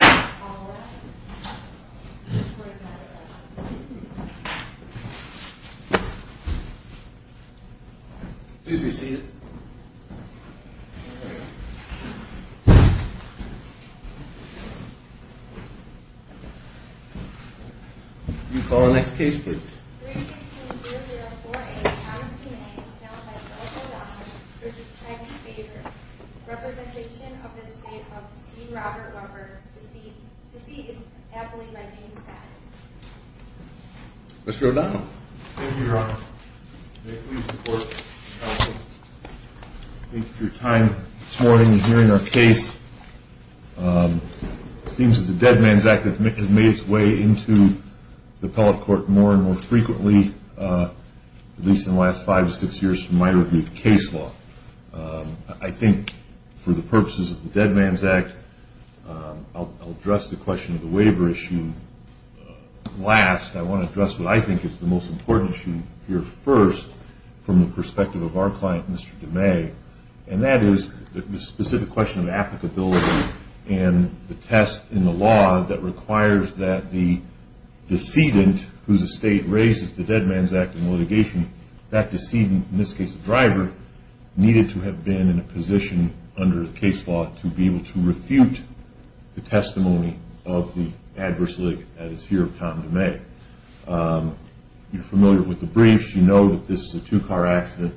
All rise. This court is now adjourned. Please be seated. Will you call the next case, please? 316-004-A. Mr. O'Donnell. Thank you, Your Honor. May it please the court. Thank you for your time this morning in hearing our case. It seems that the Dead Man's Act has made its way into the appellate court more and more frequently, at least in the last five or six years from my review of case law. I think for the purposes of the Dead Man's Act, I'll address the question of the waiver issue last. I want to address what I think is the most important issue here first from the perspective of our client, Mr. DeMay, and that is the specific question of applicability and the test in the law that requires that the decedent, whose estate raises the Dead Man's Act in litigation, that decedent, in this case the driver, needed to have been in a position under case law to be able to refute the testimony of the adverse litigant, that is here Tom DeMay. You're familiar with the briefs. You know that this is a two-car accident.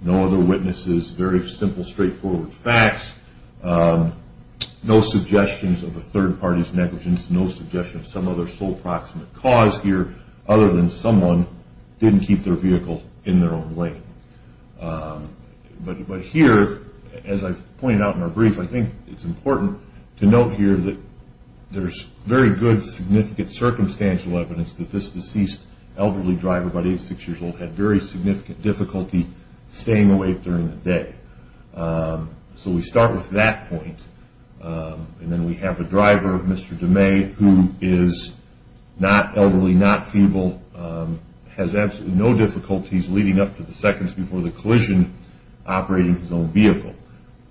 No other witnesses. Very simple, straightforward facts. No suggestions of a third party's negligence. No suggestion of some other sole proximate cause here other than someone didn't keep their vehicle in their own lane. But here, as I've pointed out in our brief, I think it's important to note here that there's very good, significant circumstantial evidence that this deceased elderly driver, about 86 years old, had very significant difficulty staying awake during the day. So we start with that point, and then we have a driver, Mr. DeMay, who is not elderly, not feeble, has absolutely no difficulties leading up to the seconds before the collision operating his own vehicle.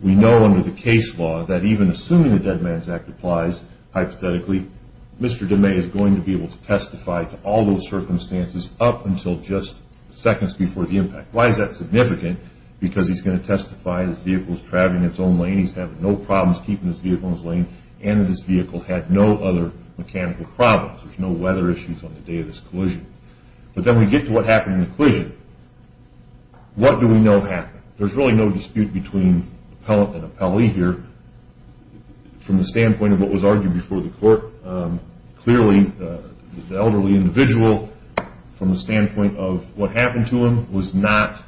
We know under the case law that even assuming the Dead Man's Act applies, hypothetically, Mr. DeMay is going to be able to testify to all those circumstances up until just seconds before the impact. Why is that significant? Because he's going to testify his vehicle was traveling in its own lane, he's having no problems keeping his vehicle in his lane, and that his vehicle had no other mechanical problems. There's no weather issues on the day of this collision. But then we get to what happened in the collision. What do we know happened? There's really no dispute between appellant and appellee here. From the standpoint of what was argued before the court, clearly the elderly individual, from the standpoint of what happened to him, was not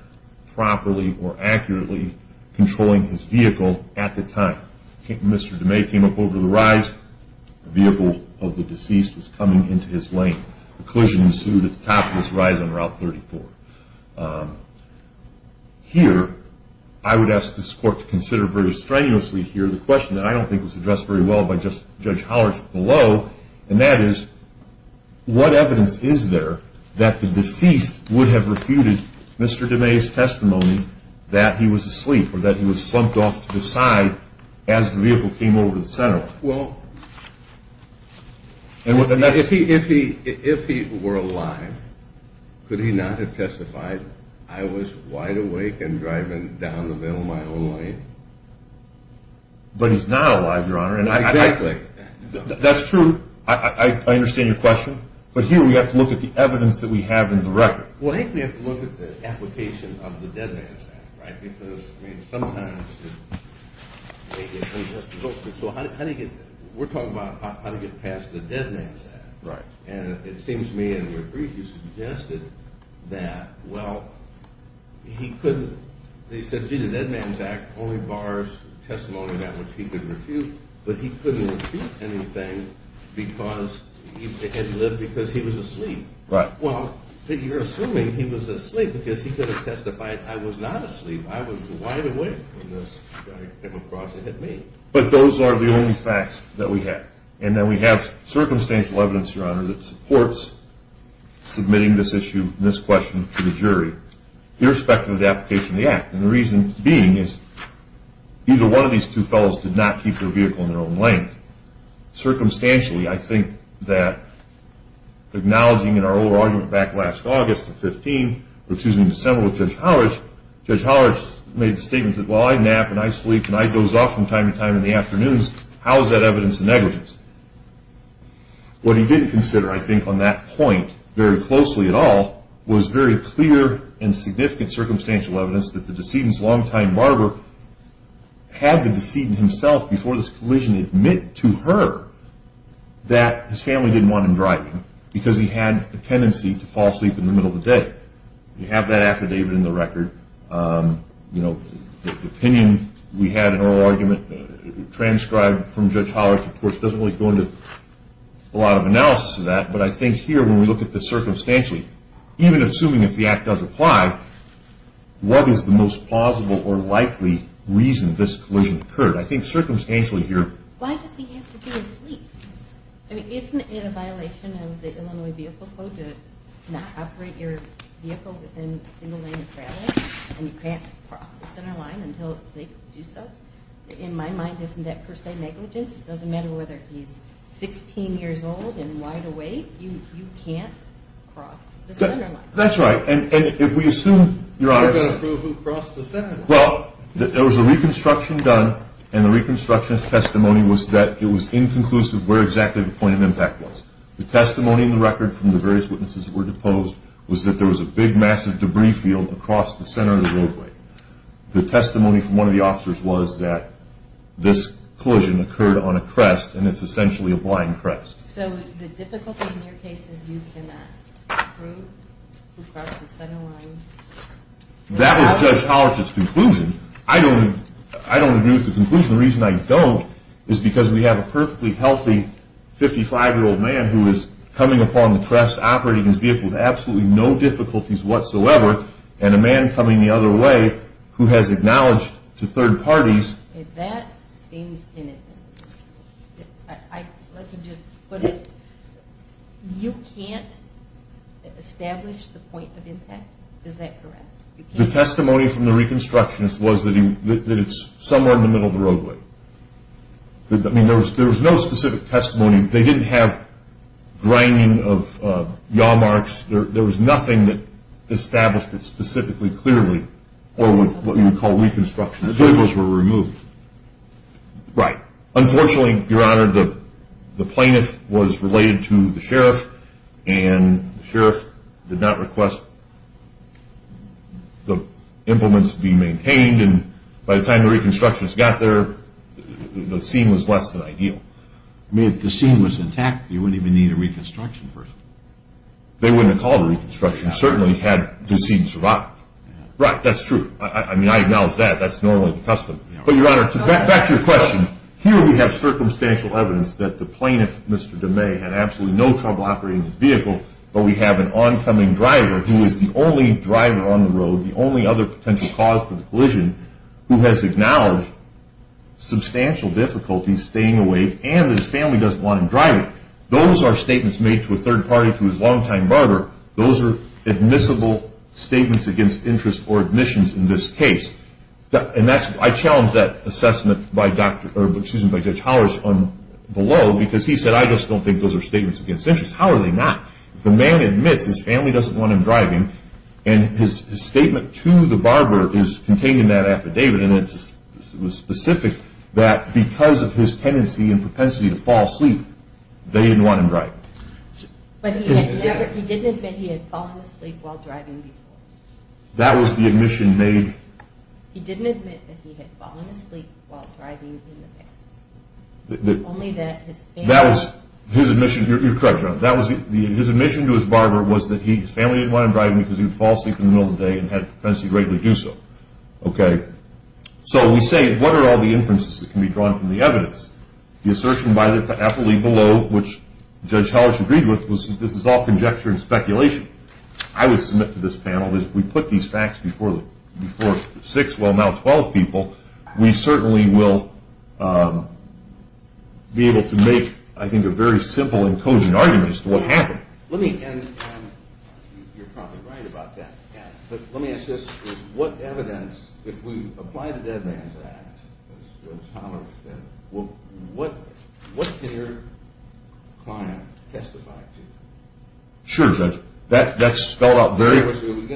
properly or accurately controlling his vehicle at the time. Mr. DeMay came up over the rise, the vehicle of the deceased was coming into his lane. The collision ensued at the top of his rise on Route 34. Here, I would ask this court to consider very strenuously here the question that I don't think was addressed very well by Judge Hollerich below, and that is what evidence is there that the deceased would have refuted Mr. DeMay's testimony that he was asleep or that he was slumped off to the side as the vehicle came over the center? If he were alive, could he not have testified, I was wide awake and driving down the middle of my own lane? But he's not alive, Your Honor. Exactly. That's true. I understand your question. But here we have to look at the evidence that we have in the record. Well, I think we have to look at the application of the Dead Man's Act, right? Because sometimes they get unjust results. So how do you get – we're talking about how to get past the Dead Man's Act. Right. And it seems to me in your brief you suggested that, well, he couldn't – they said, gee, the Dead Man's Act only bars testimony that which he could refute, but he couldn't refute anything because he had lived because he was asleep. Right. Well, you're assuming he was asleep because he could have testified, I was not asleep, I was wide awake when this guy came across and hit me. But those are the only facts that we have. And then we have circumstantial evidence, Your Honor, that supports submitting this issue and this question to the jury irrespective of the application of the act. And the reason being is either one of these two fellows did not keep their vehicle in their own lane. Circumstantially, I think that acknowledging in our oral argument back last August of 15 – or excuse me, December with Judge Howard, Judge Howard made the statement that, well, I nap and I sleep and the night goes off from time to time in the afternoons. How is that evidence of negligence? What he didn't consider, I think, on that point very closely at all was very clear and significant circumstantial evidence that the decedent's long-time barber had the decedent himself before this collision admit to her that his family didn't want him driving because he had a tendency to fall asleep in the middle of the day. We have that affidavit in the record. The opinion we had in our oral argument transcribed from Judge Howard, of course, doesn't really go into a lot of analysis of that, but I think here when we look at this circumstantially, even assuming if the act does apply, what is the most plausible or likely reason this collision occurred? I think circumstantially here – Why does he have to be asleep? I mean, isn't it a violation of the Illinois Vehicle Code to not operate your vehicle within a single lane of travel and you can't cross the center line until it's safe to do so? In my mind, isn't that per se negligence? It doesn't matter whether he's 16 years old and wide awake. You can't cross the center line. That's right, and if we assume, Your Honor – We've got to prove who crossed the center line. Well, there was a reconstruction done, and the reconstruction's testimony was that it was inconclusive where exactly the point of impact was. The testimony in the record from the various witnesses that were deposed was that there was a big, massive debris field across the center of the roadway. The testimony from one of the officers was that this collision occurred on a crest, and it's essentially a blind crest. So the difficulty in your case is you cannot prove who crossed the center line. That was Judge Hallert's conclusion. I don't agree with the conclusion. The reason I don't is because we have a perfectly healthy 55-year-old man who is coming upon the crest operating his vehicle with absolutely no difficulties whatsoever, and a man coming the other way who has acknowledged to third parties. That seems inadmissible. Let me just put it. You can't establish the point of impact. Is that correct? The testimony from the reconstructionist was that it's somewhere in the middle of the roadway. There was no specific testimony. They didn't have grinding of yaw marks. There was nothing that established it specifically clearly or what you would call reconstruction. The tables were removed. Right. Unfortunately, Your Honor, the plaintiff was related to the sheriff, and the sheriff did not request the implements be maintained, and by the time the reconstructionists got there, the scene was less than ideal. I mean, if the scene was intact, you wouldn't even need a reconstruction person. They wouldn't have called a reconstruction, certainly had the scene survived. Right, that's true. I mean, I acknowledge that. That's normally the custom. But, Your Honor, back to your question. Here we have circumstantial evidence that the plaintiff, Mr. DeMay, had absolutely no trouble operating his vehicle, but we have an oncoming driver who is the only driver on the road, the only other potential cause for the collision, who has acknowledged substantial difficulties staying awake, and his family doesn't want him driving. Those are statements made to a third party to his longtime partner. Those are admissible statements against interest or admissions in this case. And I challenge that assessment by Judge Hollers below, because he said, I just don't think those are statements against interest. How are they not? If a man admits his family doesn't want him driving, and his statement to the barber is contained in that affidavit, and it was specific that because of his tendency and propensity to fall asleep, they didn't want him driving. But he didn't admit he had fallen asleep while driving before. That was the admission made. He didn't admit that he had fallen asleep while driving in the past. Only that his family… That was his admission. You're correct, Your Honor. His admission to his barber was that his family didn't want him driving because he would fall asleep in the middle of the day and had propensity to regularly do so. So we say, what are all the inferences that can be drawn from the evidence? The assertion by the affilee below, which Judge Hollers agreed with, was this is all conjecture and speculation. I would submit to this panel that if we put these facts before six, well, now 12 people, we certainly will be able to make, I think, a very simple and cogent argument as to what happened. You're probably right about that. Let me ask this. If we apply the Dead Man's Act, as Judge Hollers said, what did your client testify to? Sure, Judge. That's spelled out very clearly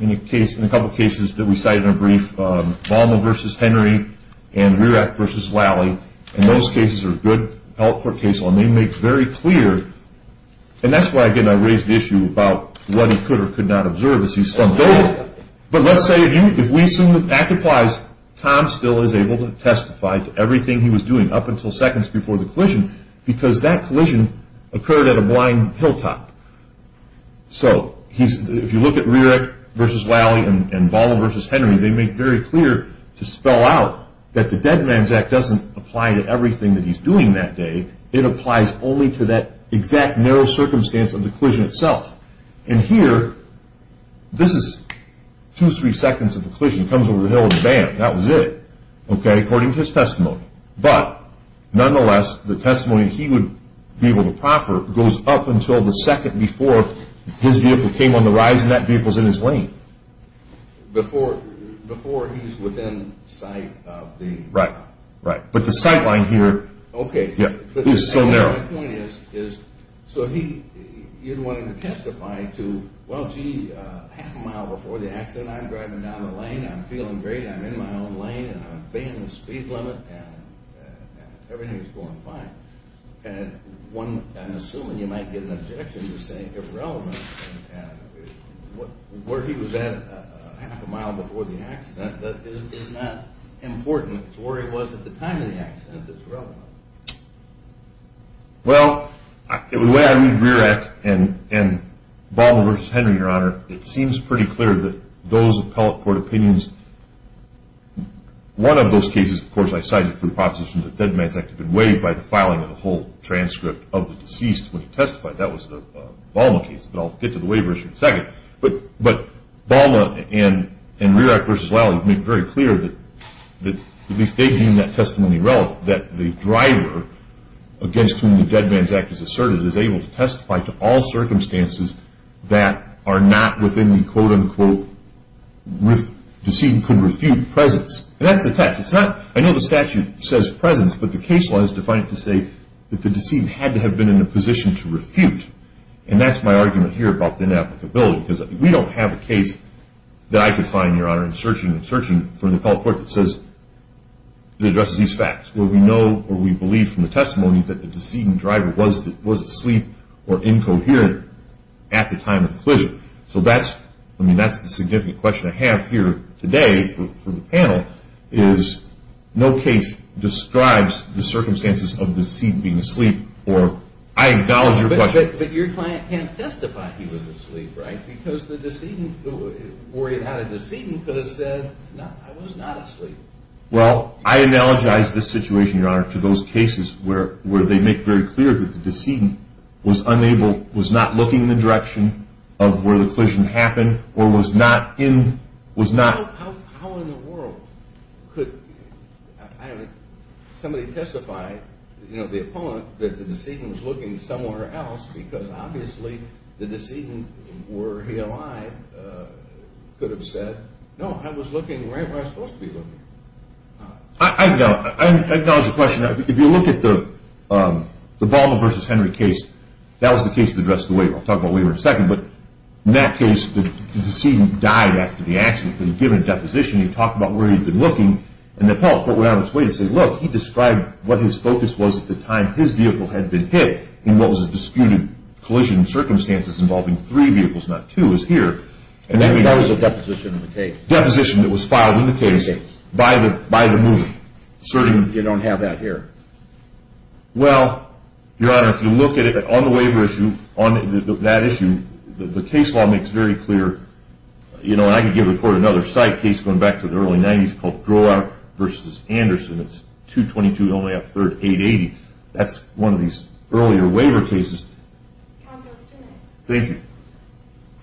in a couple of cases that we cited in a brief. Vollmer v. Henry and Rierich v. Walley. And those cases are good health court cases. And they make very clear, and that's why, again, I raised the issue about what he could or could not observe. But let's say if we assume that that applies, Tom still is able to testify to everything he was doing up until seconds before the collision because that collision occurred at a blind hilltop. They make very clear to spell out that the Dead Man's Act doesn't apply to everything that he's doing that day. It applies only to that exact narrow circumstance of the collision itself. And here, this is two, three seconds of the collision. Comes over the hill and bam, that was it, okay, according to his testimony. But nonetheless, the testimony he would be able to proffer goes up until the second before his vehicle came on the rise and that vehicle's in his lane. Before he's within sight of the… Right, right, but the sight line here… Okay. …is so narrow. My point is, so he, you'd want him to testify to, well, gee, half a mile before the accident, I'm driving down the lane, I'm feeling great, I'm in my own lane, I've abandoned the speed limit, and everything is going fine. And one, I'm assuming you might get an objection to saying irrelevant. Where he was at half a mile before the accident is not important. It's where he was at the time of the accident that's relevant. Well, the way I read Rear Act and Balmer v. Henry, Your Honor, it seems pretty clear that those appellate court opinions, one of those cases, of course, I cited for the proposition that Dead Man's Act had been waived by the filing of the whole transcript of the deceased when he testified. That was the Balmer case, but I'll get to the waiver issue in a second. But Balmer and Rear Act v. Lally have made very clear that at least they deem that testimony relevant, that the driver against whom the Dead Man's Act is asserted is able to testify to all circumstances that are not within the, quote, unquote, deceit and could refute presence. And that's the test. I know the statute says presence, but the case law has defined it to say that the deceit had to have been in a position to refute. And that's my argument here about the inapplicability, because we don't have a case that I could find, Your Honor, in searching for an appellate court that says it addresses these facts, where we know or we believe from the testimony that the deceit and driver was asleep or incoherent at the time of the collision. No case describes the circumstances of the deceit being asleep, or I acknowledge your question. But your client can't testify he was asleep, right? Because the worry about a decedent could have said, no, I was not asleep. Well, I analogize this situation, Your Honor, to those cases where they make very clear that the decedent was unable, was not looking in the direction of where the collision happened or was not in, was not. How in the world could somebody testify, you know, the opponent, that the decedent was looking somewhere else, because obviously the decedent, were he alive, could have said, no, I was looking right where I was supposed to be looking. I acknowledge your question. If you look at the Balma versus Henry case, that was the case that addressed the waiver. I'll talk about waiver in a second. But in that case, the decedent died after the accident. He was given a deposition. He talked about where he had been looking. And the appellate put him on his way to say, look, he described what his focus was at the time his vehicle had been hit in what was a disputed collision circumstances involving three vehicles, not two, is here. And that was a deposition in the case. Deposition that was filed in the case by the movement. You don't have that here. Well, Your Honor, if you look at it on the waiver issue, on that issue, the case law makes very clear, you know, and I can give the court another side case going back to the early 90s called Grolar versus Anderson. It's 222, only up third, 880. That's one of these earlier waiver cases. Counsel, it's too late. Thank you.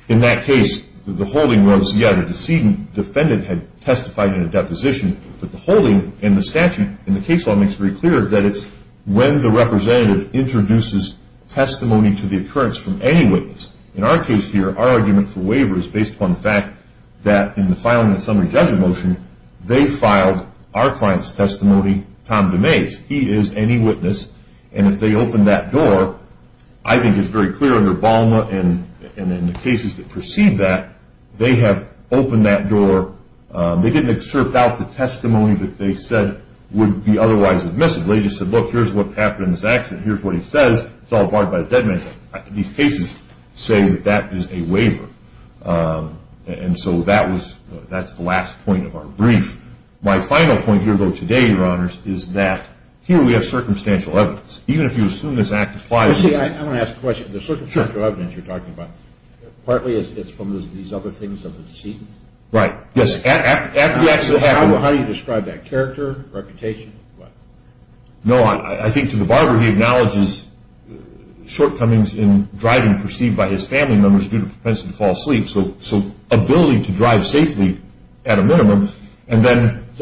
In that case, the holding was, yeah, the decedent had testified in a deposition, but the holding and the statute in the case law makes very clear that it's when the representative introduces testimony to the occurrence from any witness. In our case here, our argument for waiver is based upon the fact that in the filing of the summary judgment motion, they filed our client's testimony, Tom DeMays. He is any witness. And if they open that door, I think it's very clear under Balma and in the cases that precede that, they have opened that door. They didn't excerpt out the testimony that they said would be otherwise admissible. They just said, look, here's what happened in this accident. Here's what he says. It's all barred by the dead man's act. These cases say that that is a waiver. And so that's the last point of our brief. My final point here, though, today, Your Honors, is that here we have circumstantial evidence. Even if you assume this act applies. I want to ask a question. The circumstantial evidence you're talking about, partly it's from these other things of the decedent? Right. Yes. How do you describe that? Character, reputation, what? No, I think to the barber, he acknowledges shortcomings in driving perceived by his family members due to propensity to fall asleep. So ability to drive safely at a minimum. So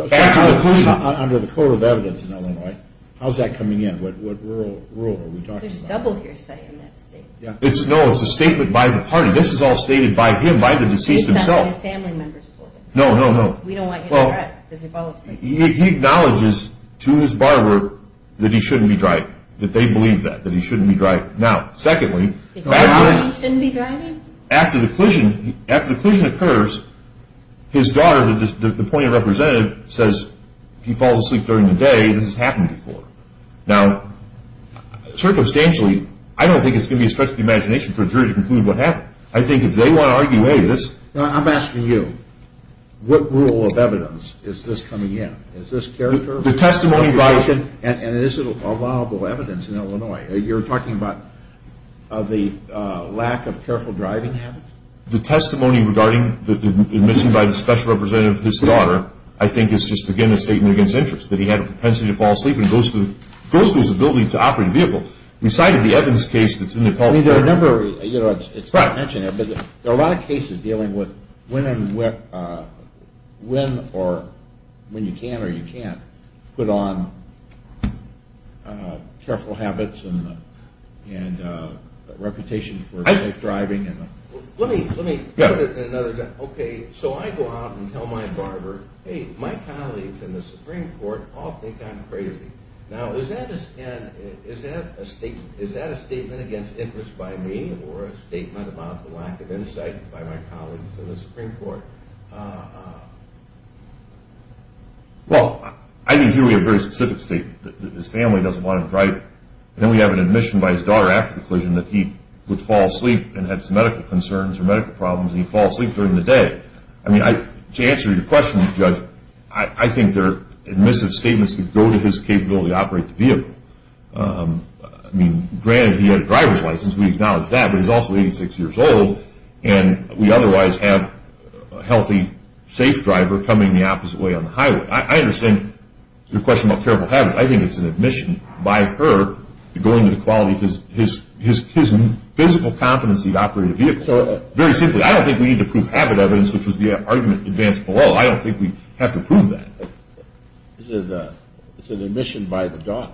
under the code of evidence in Illinois, how's that coming in? What rule are we talking about? There's double hearsay in that statement. No, it's a statement by the party. This is all stated by him, by the deceased himself. No, no, no. We don't want you to regret that he fell asleep. He acknowledges to his barber that he shouldn't be driving, that they believe that, that he shouldn't be driving. Now, secondly, after the collision occurs, his daughter, the point of representative, says he falls asleep during the day. This has happened before. Now, circumstantially, I don't think it's going to be a stretch of the imagination for a jury to conclude what happened. I think if they want to argue, hey, this. I'm asking you, what rule of evidence is this coming in? Is this character? The testimony by. And is it a viable evidence in Illinois? You're talking about the lack of careful driving habits? The testimony regarding, admitted by the special representative of his daughter, I think is just, again, a statement against interest, that he had a propensity to fall asleep and goes to his ability to operate a vehicle. We cited the evidence case that's in the. I mean, there are a number of, you know, it's not mentioning it, but there are a lot of cases dealing with when and where, when or when you can or you can't put on careful habits and, and reputation for safe driving. Let me, let me put it in another. Okay. So I go out and tell my barber, hey, my colleagues in the Supreme court all think I'm crazy. Now, is that, is that a statement, is that a statement against interest by me or a statement about the lack of insight by my colleagues in the Supreme court? Well, I didn't hear a very specific statement. His family doesn't want him driving. And then we have an admission by his daughter after the collision that he would fall asleep and had some medical concerns or medical problems. And he'd fall asleep during the day. I mean, I, to answer your question, judge, I think there are admissive statements that go to his capability to operate the vehicle. I mean, granted he had a driver's license. We acknowledge that, but he's also 86 years old. And we otherwise have a healthy, safe driver coming the opposite way on the highway. I understand your question about careful habits. I think it's an admission by her to go into the quality of his, his physical competency to operate a vehicle. Very simply, I don't think we need to prove habit evidence, which was the argument advanced below. I don't think we have to prove that. This is a, it's an admission by the dog.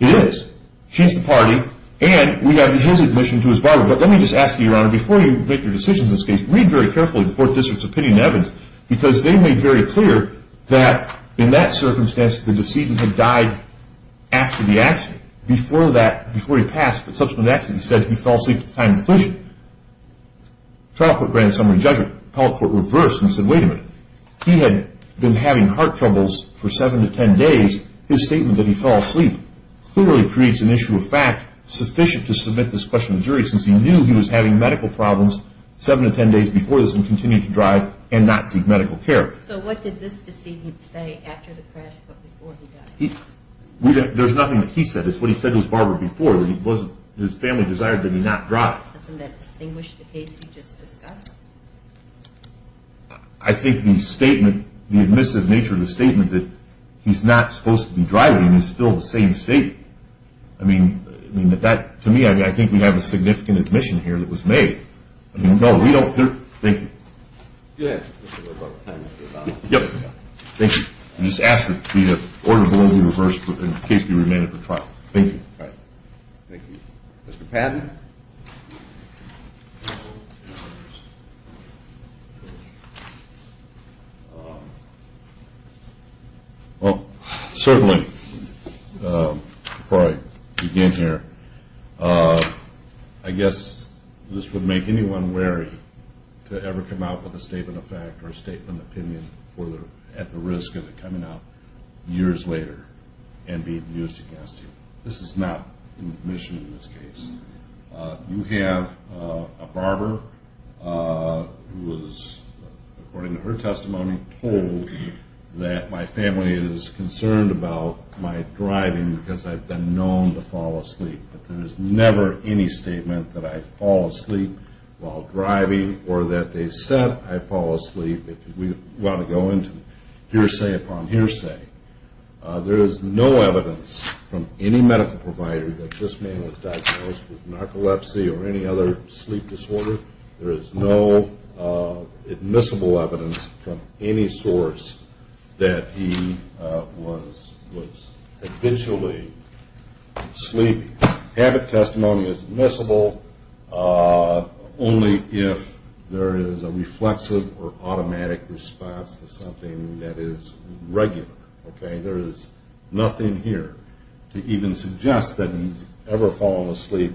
It is. She's the party and we have his admission to his body. But let me just ask you, Your Honor, before you make your decisions in this case, read very carefully the fourth district's opinion evidence, because they made very clear that in that circumstance, the decedent had died after the accident. Before that, before he passed the subsequent accident, he said he fell asleep at the time of the collision. The trial court granted summary judgment. The appellate court reversed and said, wait a minute. He had been having heart troubles for 7 to 10 days. His statement that he fell asleep clearly creates an issue of fact sufficient to submit this question to the jury, since he knew he was having medical problems 7 to 10 days before this and continued to drive and not seek medical care. So what did this decedent say after the crash but before he died? There's nothing that he said. It's what he said to his barber before. His family desired that he not drive. Doesn't that distinguish the case you just discussed? I think the statement, the admissive nature of the statement, that he's not supposed to be driving is still the same statement. I mean, to me, I think we have a significant admission here that was made. No, we don't. Thank you. Go ahead. Yep. Thank you. I just ask that the order be reversed in the case be remanded for trial. Thank you. All right. Thank you. Mr. Patton? Well, certainly, before I begin here, I guess this would make anyone wary to ever come out with a statement of fact or a statement of opinion at the risk of it coming out years later and being used against you. This is not an admission in this case. You have a barber who is, according to her testimony, told that my family is concerned about my driving because I've been known to fall asleep. But there is never any statement that I fall asleep while driving or that they said I fall asleep if we want to go into hearsay upon hearsay. There is no evidence from any medical provider that this man was diagnosed with narcolepsy or any other sleep disorder. There is no admissible evidence from any source that he was habitually sleeping. Habit testimony is admissible only if there is a reflexive or automatic response to something that is regular. There is nothing here to even suggest that he's ever fallen asleep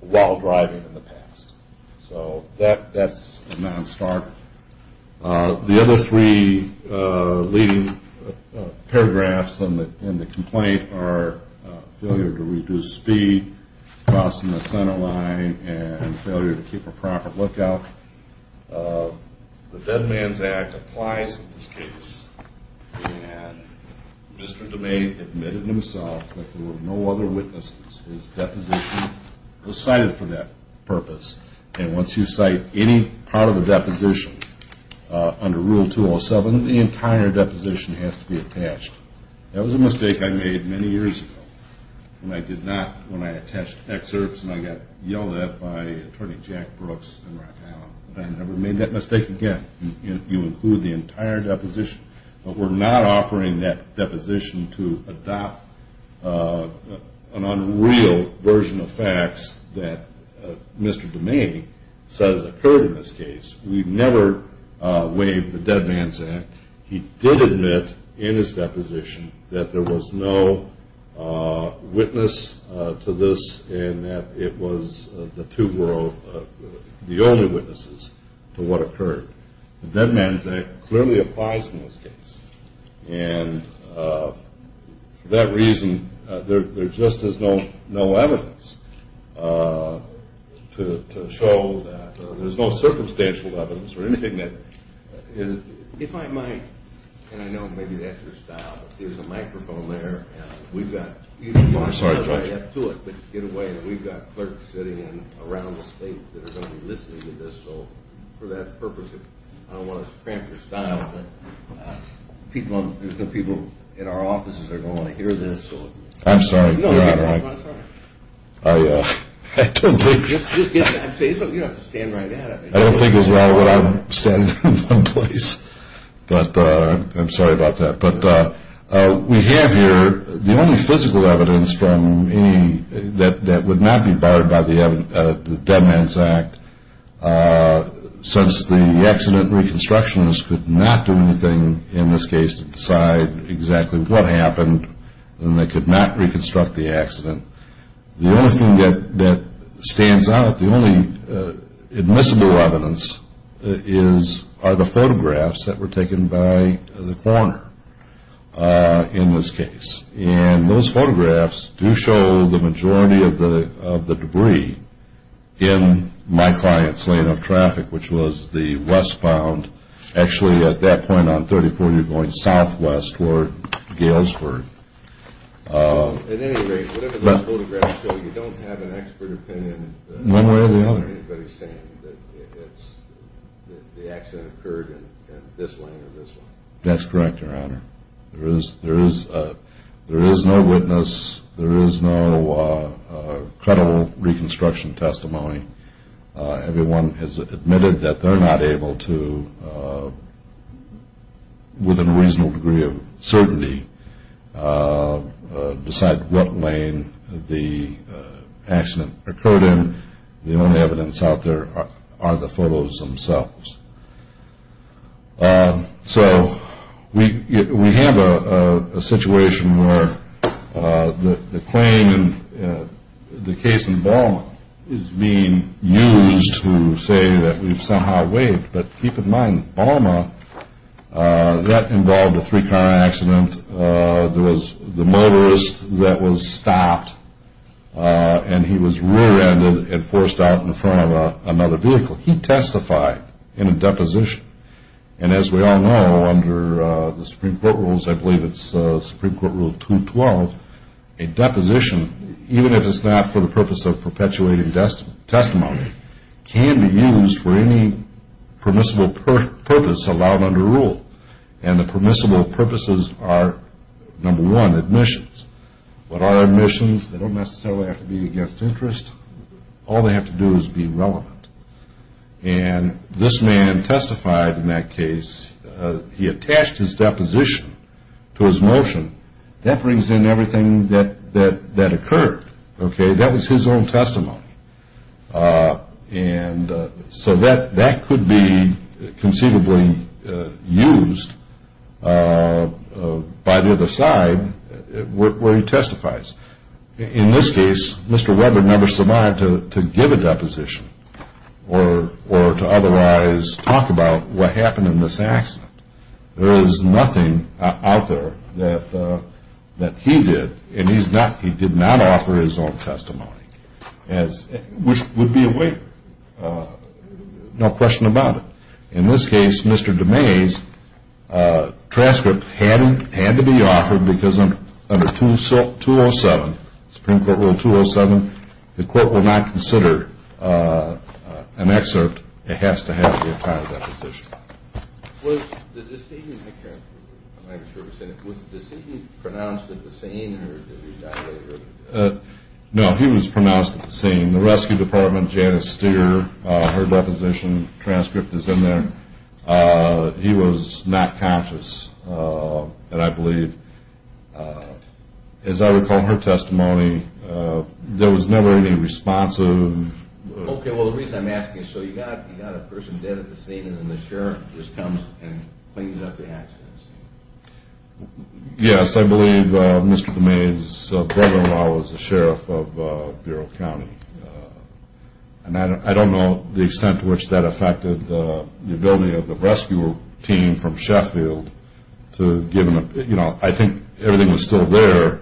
while driving in the past. So that's a non-starter. The other three leading paragraphs in the complaint are failure to reduce speed, crossing the center line, and failure to keep a proper lookout. The Dead Man's Act applies in this case, and Mr. Domain admitted himself that there were no other witnesses. His deposition was cited for that purpose. And once you cite any part of a deposition under Rule 207, the entire deposition has to be attached. That was a mistake I made many years ago when I attached excerpts and I got yelled at by Attorney Jack Brooks in Rock Island. I never made that mistake again. You include the entire deposition, but we're not offering that deposition to adopt an unreal version of facts that Mr. Domain says occurred in this case. We've never waived the Dead Man's Act. He did admit in his deposition that there was no witness to this and that it was the two or the only witnesses to what occurred. The Dead Man's Act clearly applies in this case. And for that reason, there just is no evidence to show that, or there's no circumstantial evidence or anything that is. If I might, and I know maybe that's your style, if there's a microphone there, we've got. I'm sorry, Judge. Get away. We've got clerks sitting in around the state that are going to be listening to this. So for that purpose, I don't want to cramp your style, but there's some people in our offices that are going to want to hear this. I'm sorry, Your Honor, I don't think. You don't have to stand right there. I don't think as well that I'm standing in one place. But I'm sorry about that. But we have here the only physical evidence that would not be barred by the Dead Man's Act since the accident reconstructionist could not do anything in this case to decide exactly what happened, and they could not reconstruct the accident. The only thing that stands out, the only admissible evidence, are the photographs that were taken by the coroner in this case. And those photographs do show the majority of the debris in my client's lane of traffic, which was the westbound. Actually, at that point on 34, you're going southwest toward Galesburg. At any rate, whatever those photographs show, you don't have an expert opinion. One way or the other. I don't want anybody saying that the accident occurred in this lane or this lane. That's correct, Your Honor. There is no witness. There is no credible reconstruction testimony. Everyone has admitted that they're not able to, with a reasonable degree of certainty, decide what lane the accident occurred in. The only evidence out there are the photos themselves. So we have a situation where the claim in the case in Balma is being used to say that we've somehow waived. But keep in mind, Balma, that involved a three-car accident. There was the motorist that was stopped, and he was rear-ended and forced out in front of another vehicle. He testified in a deposition. And as we all know, under the Supreme Court rules, I believe it's Supreme Court Rule 212, a deposition, even if it's not for the purpose of perpetuating testimony, can be used for any permissible purpose allowed under rule. And the permissible purposes are, number one, admissions. But our admissions, they don't necessarily have to be against interest. All they have to do is be relevant. And this man testified in that case. He attached his deposition to his motion. That brings in everything that occurred, okay? That was his own testimony. And so that could be conceivably used by the other side where he testifies. In this case, Mr. Webber never survived to give a deposition or to otherwise talk about what happened in this accident. There is nothing out there that he did, and he did not offer his own testimony, which would be a waiver. No question about it. In this case, Mr. DeMays' transcript had to be offered because under 207, Supreme Court Rule 207, the court will not consider an excerpt. It has to have the entire deposition. Was the deceasing pronounced at the scene or did he die later? No, he was pronounced at the scene. The rescue department, Janice Steer, her deposition transcript is in there. He was not conscious, I believe. As I recall her testimony, there was never any responsive. Okay, well, the reason I'm asking is so you got a person dead at the scene, and then the sheriff just comes and cleans up the accident scene. Yes, I believe Mr. DeMays' brother-in-law was the sheriff of Bureau County. I don't know the extent to which that affected the ability of the rescue team from Sheffield. I think everything was still there.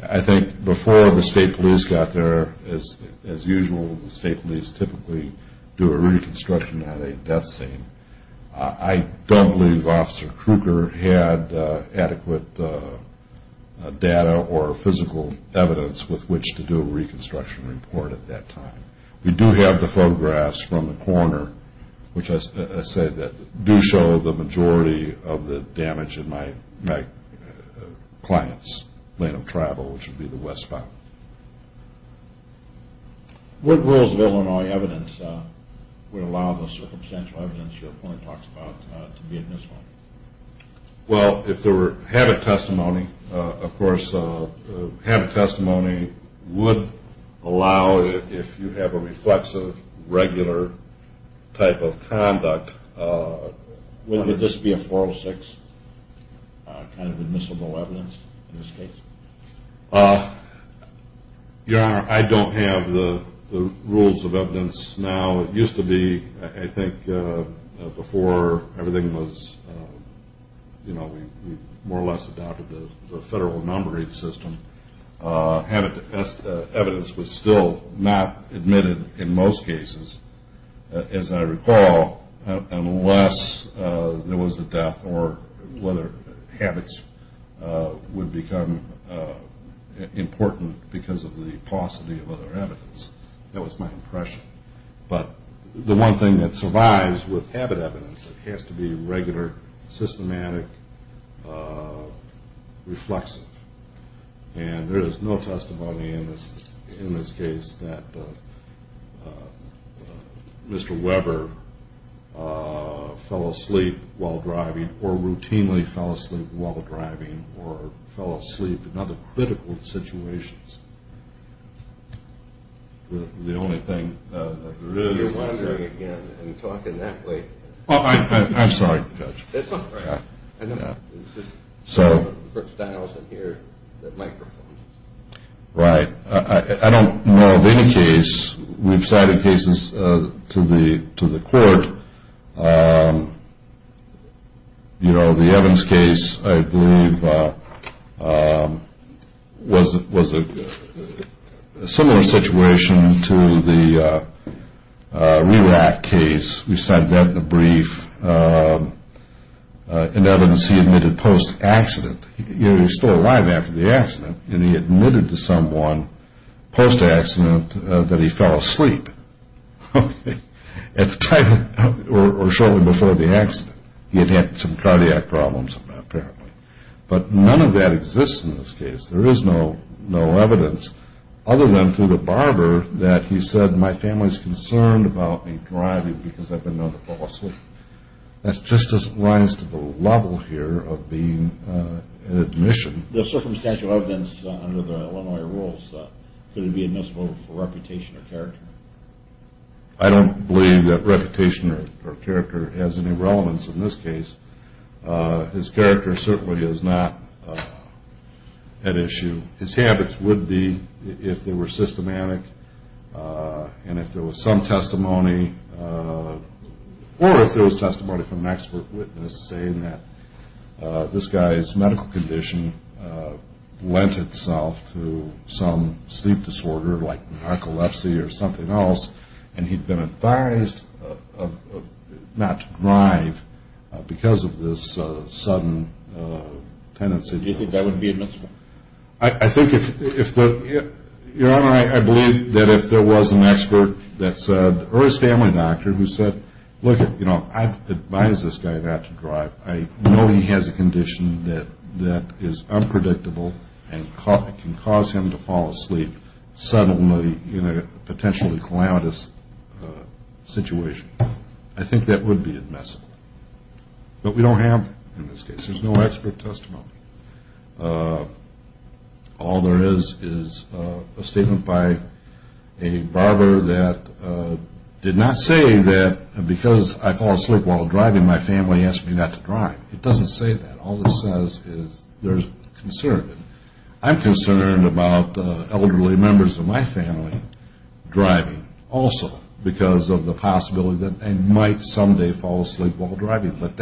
I think before the state police got there, as usual, the state police typically do a reconstruction at a death scene. I don't believe Officer Krueger had adequate data or physical evidence with which to do a reconstruction report at that time. We do have the photographs from the corner, which I say do show the majority of the damage in my client's lane of travel, which would be the westbound. What rules of Illinois evidence would allow the circumstantial evidence your point talks about to be admissible? Well, if there were habit testimony, of course, habit testimony would allow, if you have a reflexive, regular type of conduct. Would this be a 406 kind of admissible evidence in this case? Your Honor, I don't have the rules of evidence now. It used to be, I think, before everything was, you know, we more or less adopted the federal numbering system, habit evidence was still not admitted in most cases, as I recall, unless there was a death or whether habits would become important because of the paucity of other evidence. That was my impression. But the one thing that survives with habit evidence, it has to be regular, systematic, reflexive. And there is no testimony in this case that Mr. Weber fell asleep while driving or routinely fell asleep while driving or fell asleep in other critical situations. The only thing that there is... You're wondering again and talking that way. I'm sorry, Judge. That's all right. It's just that I also hear the microphone. Right. I don't know of any case. We've cited cases to the court. You know, the Evans case, I believe, was a similar situation to the Rilak case. We cited that in the brief. In evidence, he admitted post-accident. He was still alive after the accident, and he admitted to someone post-accident that he fell asleep at the time or shortly before the accident. He had had some cardiac problems, apparently. But none of that exists in this case. There is no evidence other than through the barber that he said, My family is concerned about me driving because I've been known to fall asleep. That just doesn't rise to the level here of being an admission. The circumstantial evidence under the Illinois rules, could it be admissible for reputation or character? I don't believe that reputation or character has any relevance in this case. His character certainly is not at issue. His habits would be if they were systematic and if there was some testimony or if there was testimony from an expert witness saying that this guy's medical condition lent itself to some sleep disorder like narcolepsy or something else, and he'd been advised not to drive because of this sudden tendency. Do you think that would be admissible? Your Honor, I believe that if there was an expert or a family doctor who said, Look, I've advised this guy not to drive. I know he has a condition that is unpredictable and can cause him to fall asleep suddenly in a potentially calamitous situation. I think that would be admissible. But we don't have, in this case, there's no expert testimony. All there is is a statement by a barber that did not say that because I fall asleep while driving, my family asked me not to drive. It doesn't say that. All it says is there's concern. I'm concerned about elderly members of my family driving also because of the possibility that they might someday fall asleep while driving. But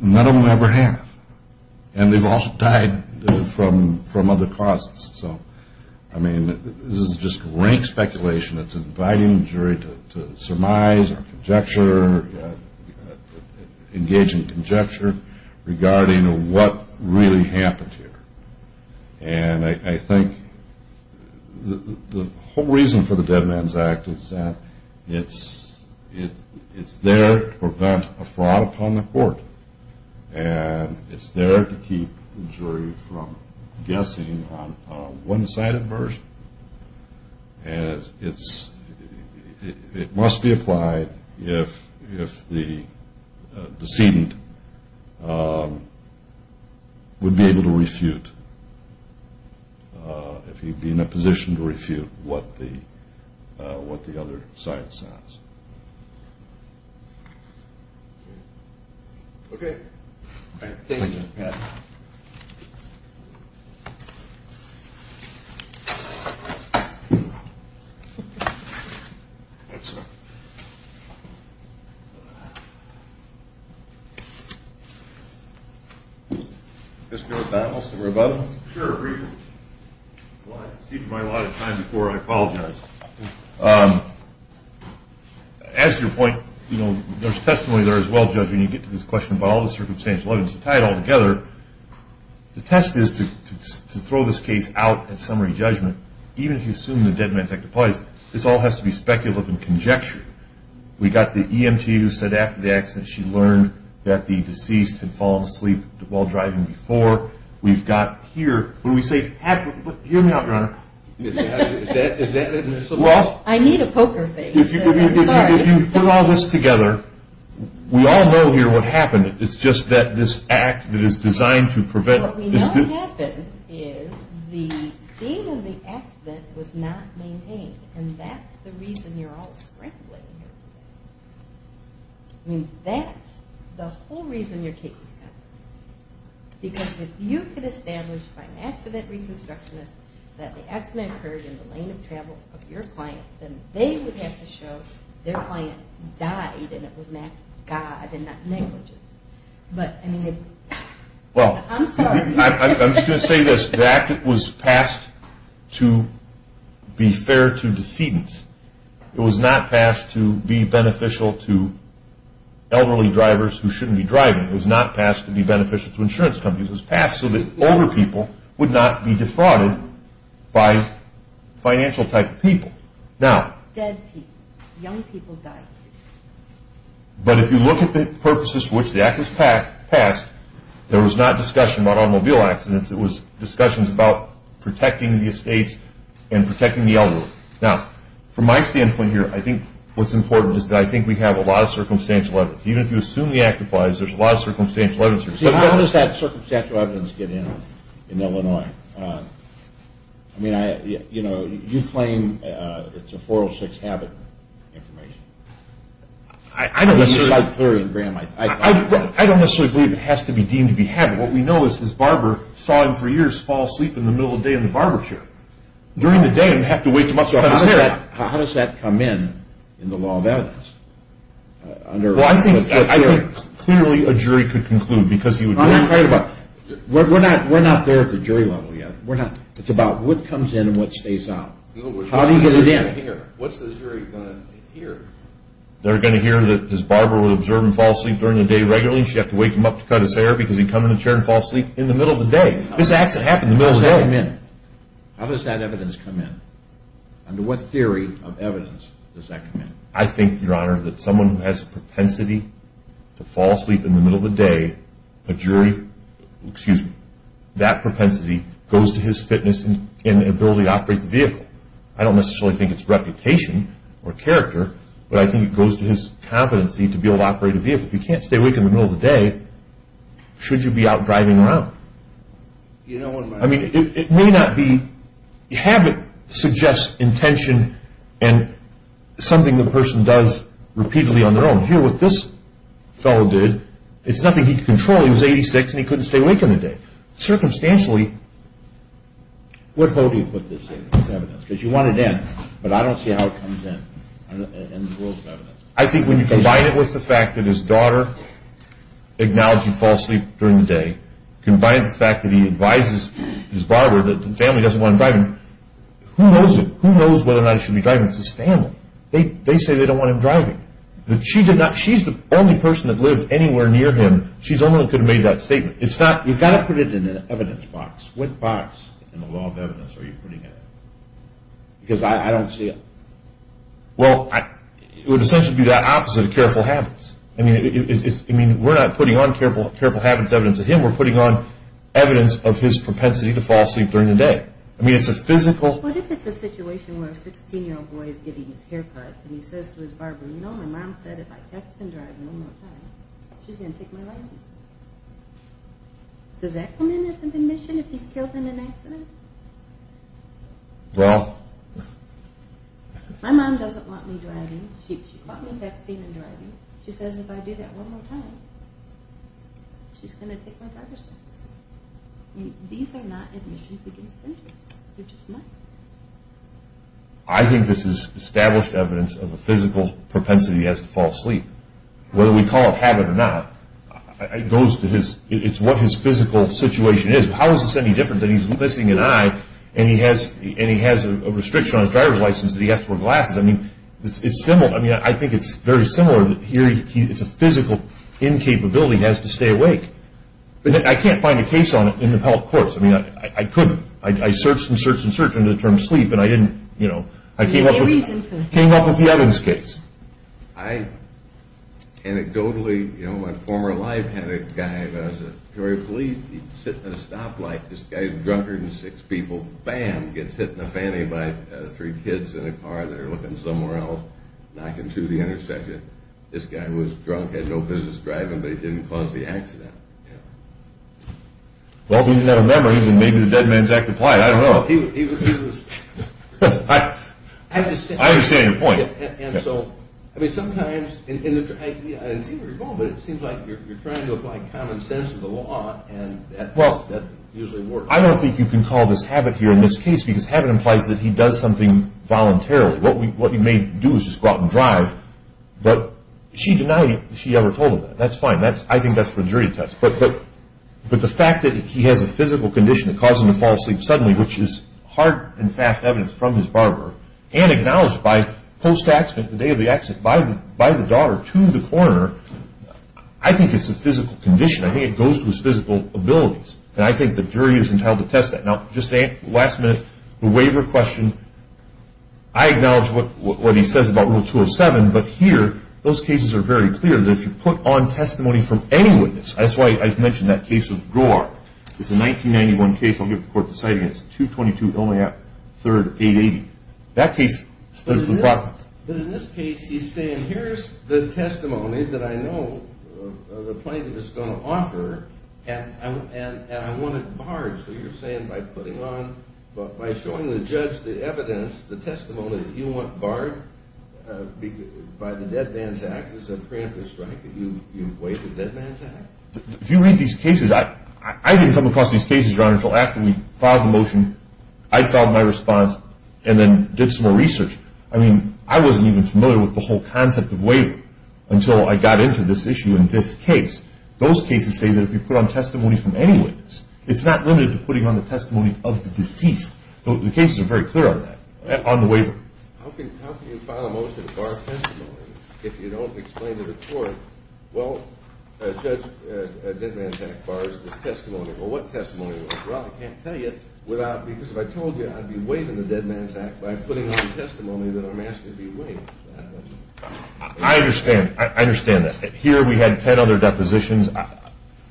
none of them ever have, and they've all died from other causes. So, I mean, this is just rank speculation that's inviting the jury to surmise or engage in conjecture regarding what really happened here. And I think the whole reason for the Dead Man's Act is that it's there to prevent a fraud upon the court, and it's there to keep the jury from guessing on a one-sided version. And it must be applied if the decedent would be able to refute, if he'd be in a position to refute what the other side says. Okay. Thank you. Yeah. Mr. McDonnell, is there a rebuttal? Sure, briefly. Well, I've received mine a lot of times before. I apologize. As to your point, there's testimony there as well, Judge, when you get to this question about all the circumstantial evidence. To tie it all together, the test is to throw this case out at summary judgment. Even if you assume the Dead Man's Act applies, this all has to be speculative and conjecture. We've got the EMT who said after the accident, she learned that the deceased had fallen asleep while driving before. Is that admissible? I need a poker face. If you put all this together, we all know here what happened. It's just that this act that is designed to prevent it. What we know happened is the scene of the accident was not maintained, and that's the reason you're all sprinkling here. I mean, that's the whole reason your case is compromised. Because if you could establish by an accident reconstructionist that the accident occurred in the lane of travel of your client, then they would have to show their client died, and it was an act of God and not negligence. I'm sorry. I'm just going to say this. The act was passed to be fair to decedents. It was not passed to be beneficial to elderly drivers who shouldn't be driving. It was not passed to be beneficial to insurance companies. It was passed so that older people would not be defrauded by financial type of people. Dead people, young people died. But if you look at the purposes for which the act was passed, there was not discussion about automobile accidents. It was discussions about protecting the estates and protecting the elderly. Now, from my standpoint here, I think what's important is that I think we have a lot of circumstantial evidence. Even if you assume the act applies, there's a lot of circumstantial evidence. But how does that circumstantial evidence get in in Illinois? I mean, you know, you claim it's a 406 habit information. I don't necessarily believe it has to be deemed to be habit. What we know is this barber saw him for years fall asleep in the middle of the day in the barber chair. During the day, he would have to wake him up so he could get up. How does that come in in the law of evidence? Well, I think clearly a jury could conclude because he would know. We're not there at the jury level yet. It's about what comes in and what stays out. How do you get it in? What's the jury going to hear? They're going to hear that his barber would observe him fall asleep during the day regularly and she'd have to wake him up to cut his hair because he'd come in the chair and fall asleep in the middle of the day. This accident happened in the middle of the day. How does that evidence come in? Under what theory of evidence does that come in? I think, Your Honor, that someone who has a propensity to fall asleep in the middle of the day, a jury, excuse me, that propensity goes to his fitness and ability to operate the vehicle. I don't necessarily think it's reputation or character, but I think it goes to his competency to be able to operate a vehicle. If you can't stay awake in the middle of the day, should you be out driving around? I mean, it may not be. Habit suggests intention and something the person does repeatedly on their own. Here, what this fellow did, it's nothing he could control. He was 86 and he couldn't stay awake in the day. Circumstantially. What hold do you put this in as evidence? Because you want it in, but I don't see how it comes in in the rules of evidence. I think when you combine it with the fact that his daughter acknowledged he'd fall asleep during the day, combined with the fact that he advised his father that the family doesn't want him driving, who knows whether or not he should be driving? It's his family. They say they don't want him driving. She's the only person that lived anywhere near him. She's the only one that could have made that statement. You've got to put it in an evidence box. What box in the law of evidence are you putting it in? Because I don't see it. Well, it would essentially be the opposite of careful habits. I mean, we're not putting on careful habits evidence of him. We're putting on evidence of his propensity to fall asleep during the day. I mean, it's a physical. What if it's a situation where a 16-year-old boy is getting his hair cut and he says to his barber, you know, my mom said if I text and drive one more time, she's going to take my license. Does that come in as an admission if he's killed in an accident? Well. My mom doesn't want me driving. She caught me texting and driving. She says if I do that one more time, she's going to take my driver's license. These are not admissions against interest. They're just not. I think this is established evidence of a physical propensity he has to fall asleep. Whether we call it habit or not, it goes to his, it's what his physical situation is. How is this any different than he's missing an eye and he has a restriction on his driver's license that he has to wear glasses? I mean, it's similar. I mean, I think it's very similar. Here it's a physical incapability he has to stay awake. I can't find a case on it in the appellate courts. I mean, I couldn't. I searched and searched and searched under the term sleep, and I didn't, you know. I came up with the Evans case. I, anecdotally, you know, my former life had a guy that was a police, he'd sit in a stoplight, this guy's drunker than six people, bam, gets hit in the fanny by three kids in a car. They're looking somewhere else, knocking to the intersection. This guy was drunk, had no business driving, but he didn't cause the accident. Well, if he didn't have a memory, then maybe the dead man's active plight. I don't know. He was, he was. I understand your point. And so, I mean, sometimes in the, I didn't seem to recall, but it seems like you're trying to apply common sense to the law, and that usually works. I don't think you can call this habit here in this case, because habit implies that he does something voluntarily. What he may do is just go out and drive, but she denied it. She never told him that. That's fine. I think that's for the jury to test. But the fact that he has a physical condition that caused him to fall asleep suddenly, which is hard and fast evidence from his barber, and acknowledged by post-accident, the day of the accident, by the daughter, to the coroner, I think it's a physical condition. I think it goes to his physical abilities. And I think the jury is entitled to test that. Now, just to end, last minute, the waiver question, I acknowledge what he says about Rule 207, but here those cases are very clear that if you put on testimony from any witness, that's why I mentioned that case of Groar. It's a 1991 case. I'll give the court the sighting. It's 222 Illinois Ave. 3rd, 880. That case says the bottom. But in this case, he's saying, Here's the testimony that I know the plaintiff is going to offer, and I want it barred. So you're saying by putting on, by showing the judge the evidence, the testimony that you want barred by the Dead Man's Act, is a preemptive strike that you've waived the Dead Man's Act? If you read these cases, I didn't come across these cases, Your Honor, until after we filed the motion. I filed my response and then did some more research. I mean, I wasn't even familiar with the whole concept of waiver until I got into this issue in this case. Those cases say that if you put on testimony from any witness, it's not limited to putting on the testimony of the deceased. The cases are very clear on that, on the waiver. How can you file a motion to bar a testimony if you don't explain to the court, Well, Judge, the Dead Man's Act bars this testimony. Well, what testimony? Well, I can't tell you because if I told you I'd be waiving the Dead Man's Act by putting on the testimony that I'm asking to be waived. I understand. I understand that. Here we had ten other depositions.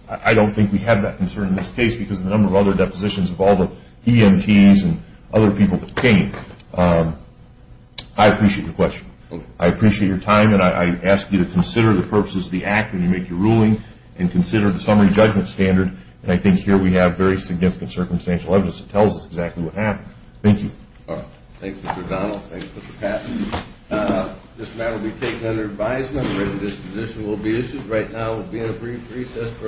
I don't think we have that concern in this case because of the number of other depositions of all the EMTs and other people who came. I appreciate your question. I appreciate your time, and I ask you to consider the purposes of the act when you make your ruling and consider the summary judgment standard, and I think here we have very significant circumstantial evidence that tells us exactly what happened. Thank you. All right. Thank you, Mr. O'Donnell. Thanks, Mr. Patton. This matter will be taken under advisement. Written disposition will be issued. Right now we'll be in a brief recess for a panel change.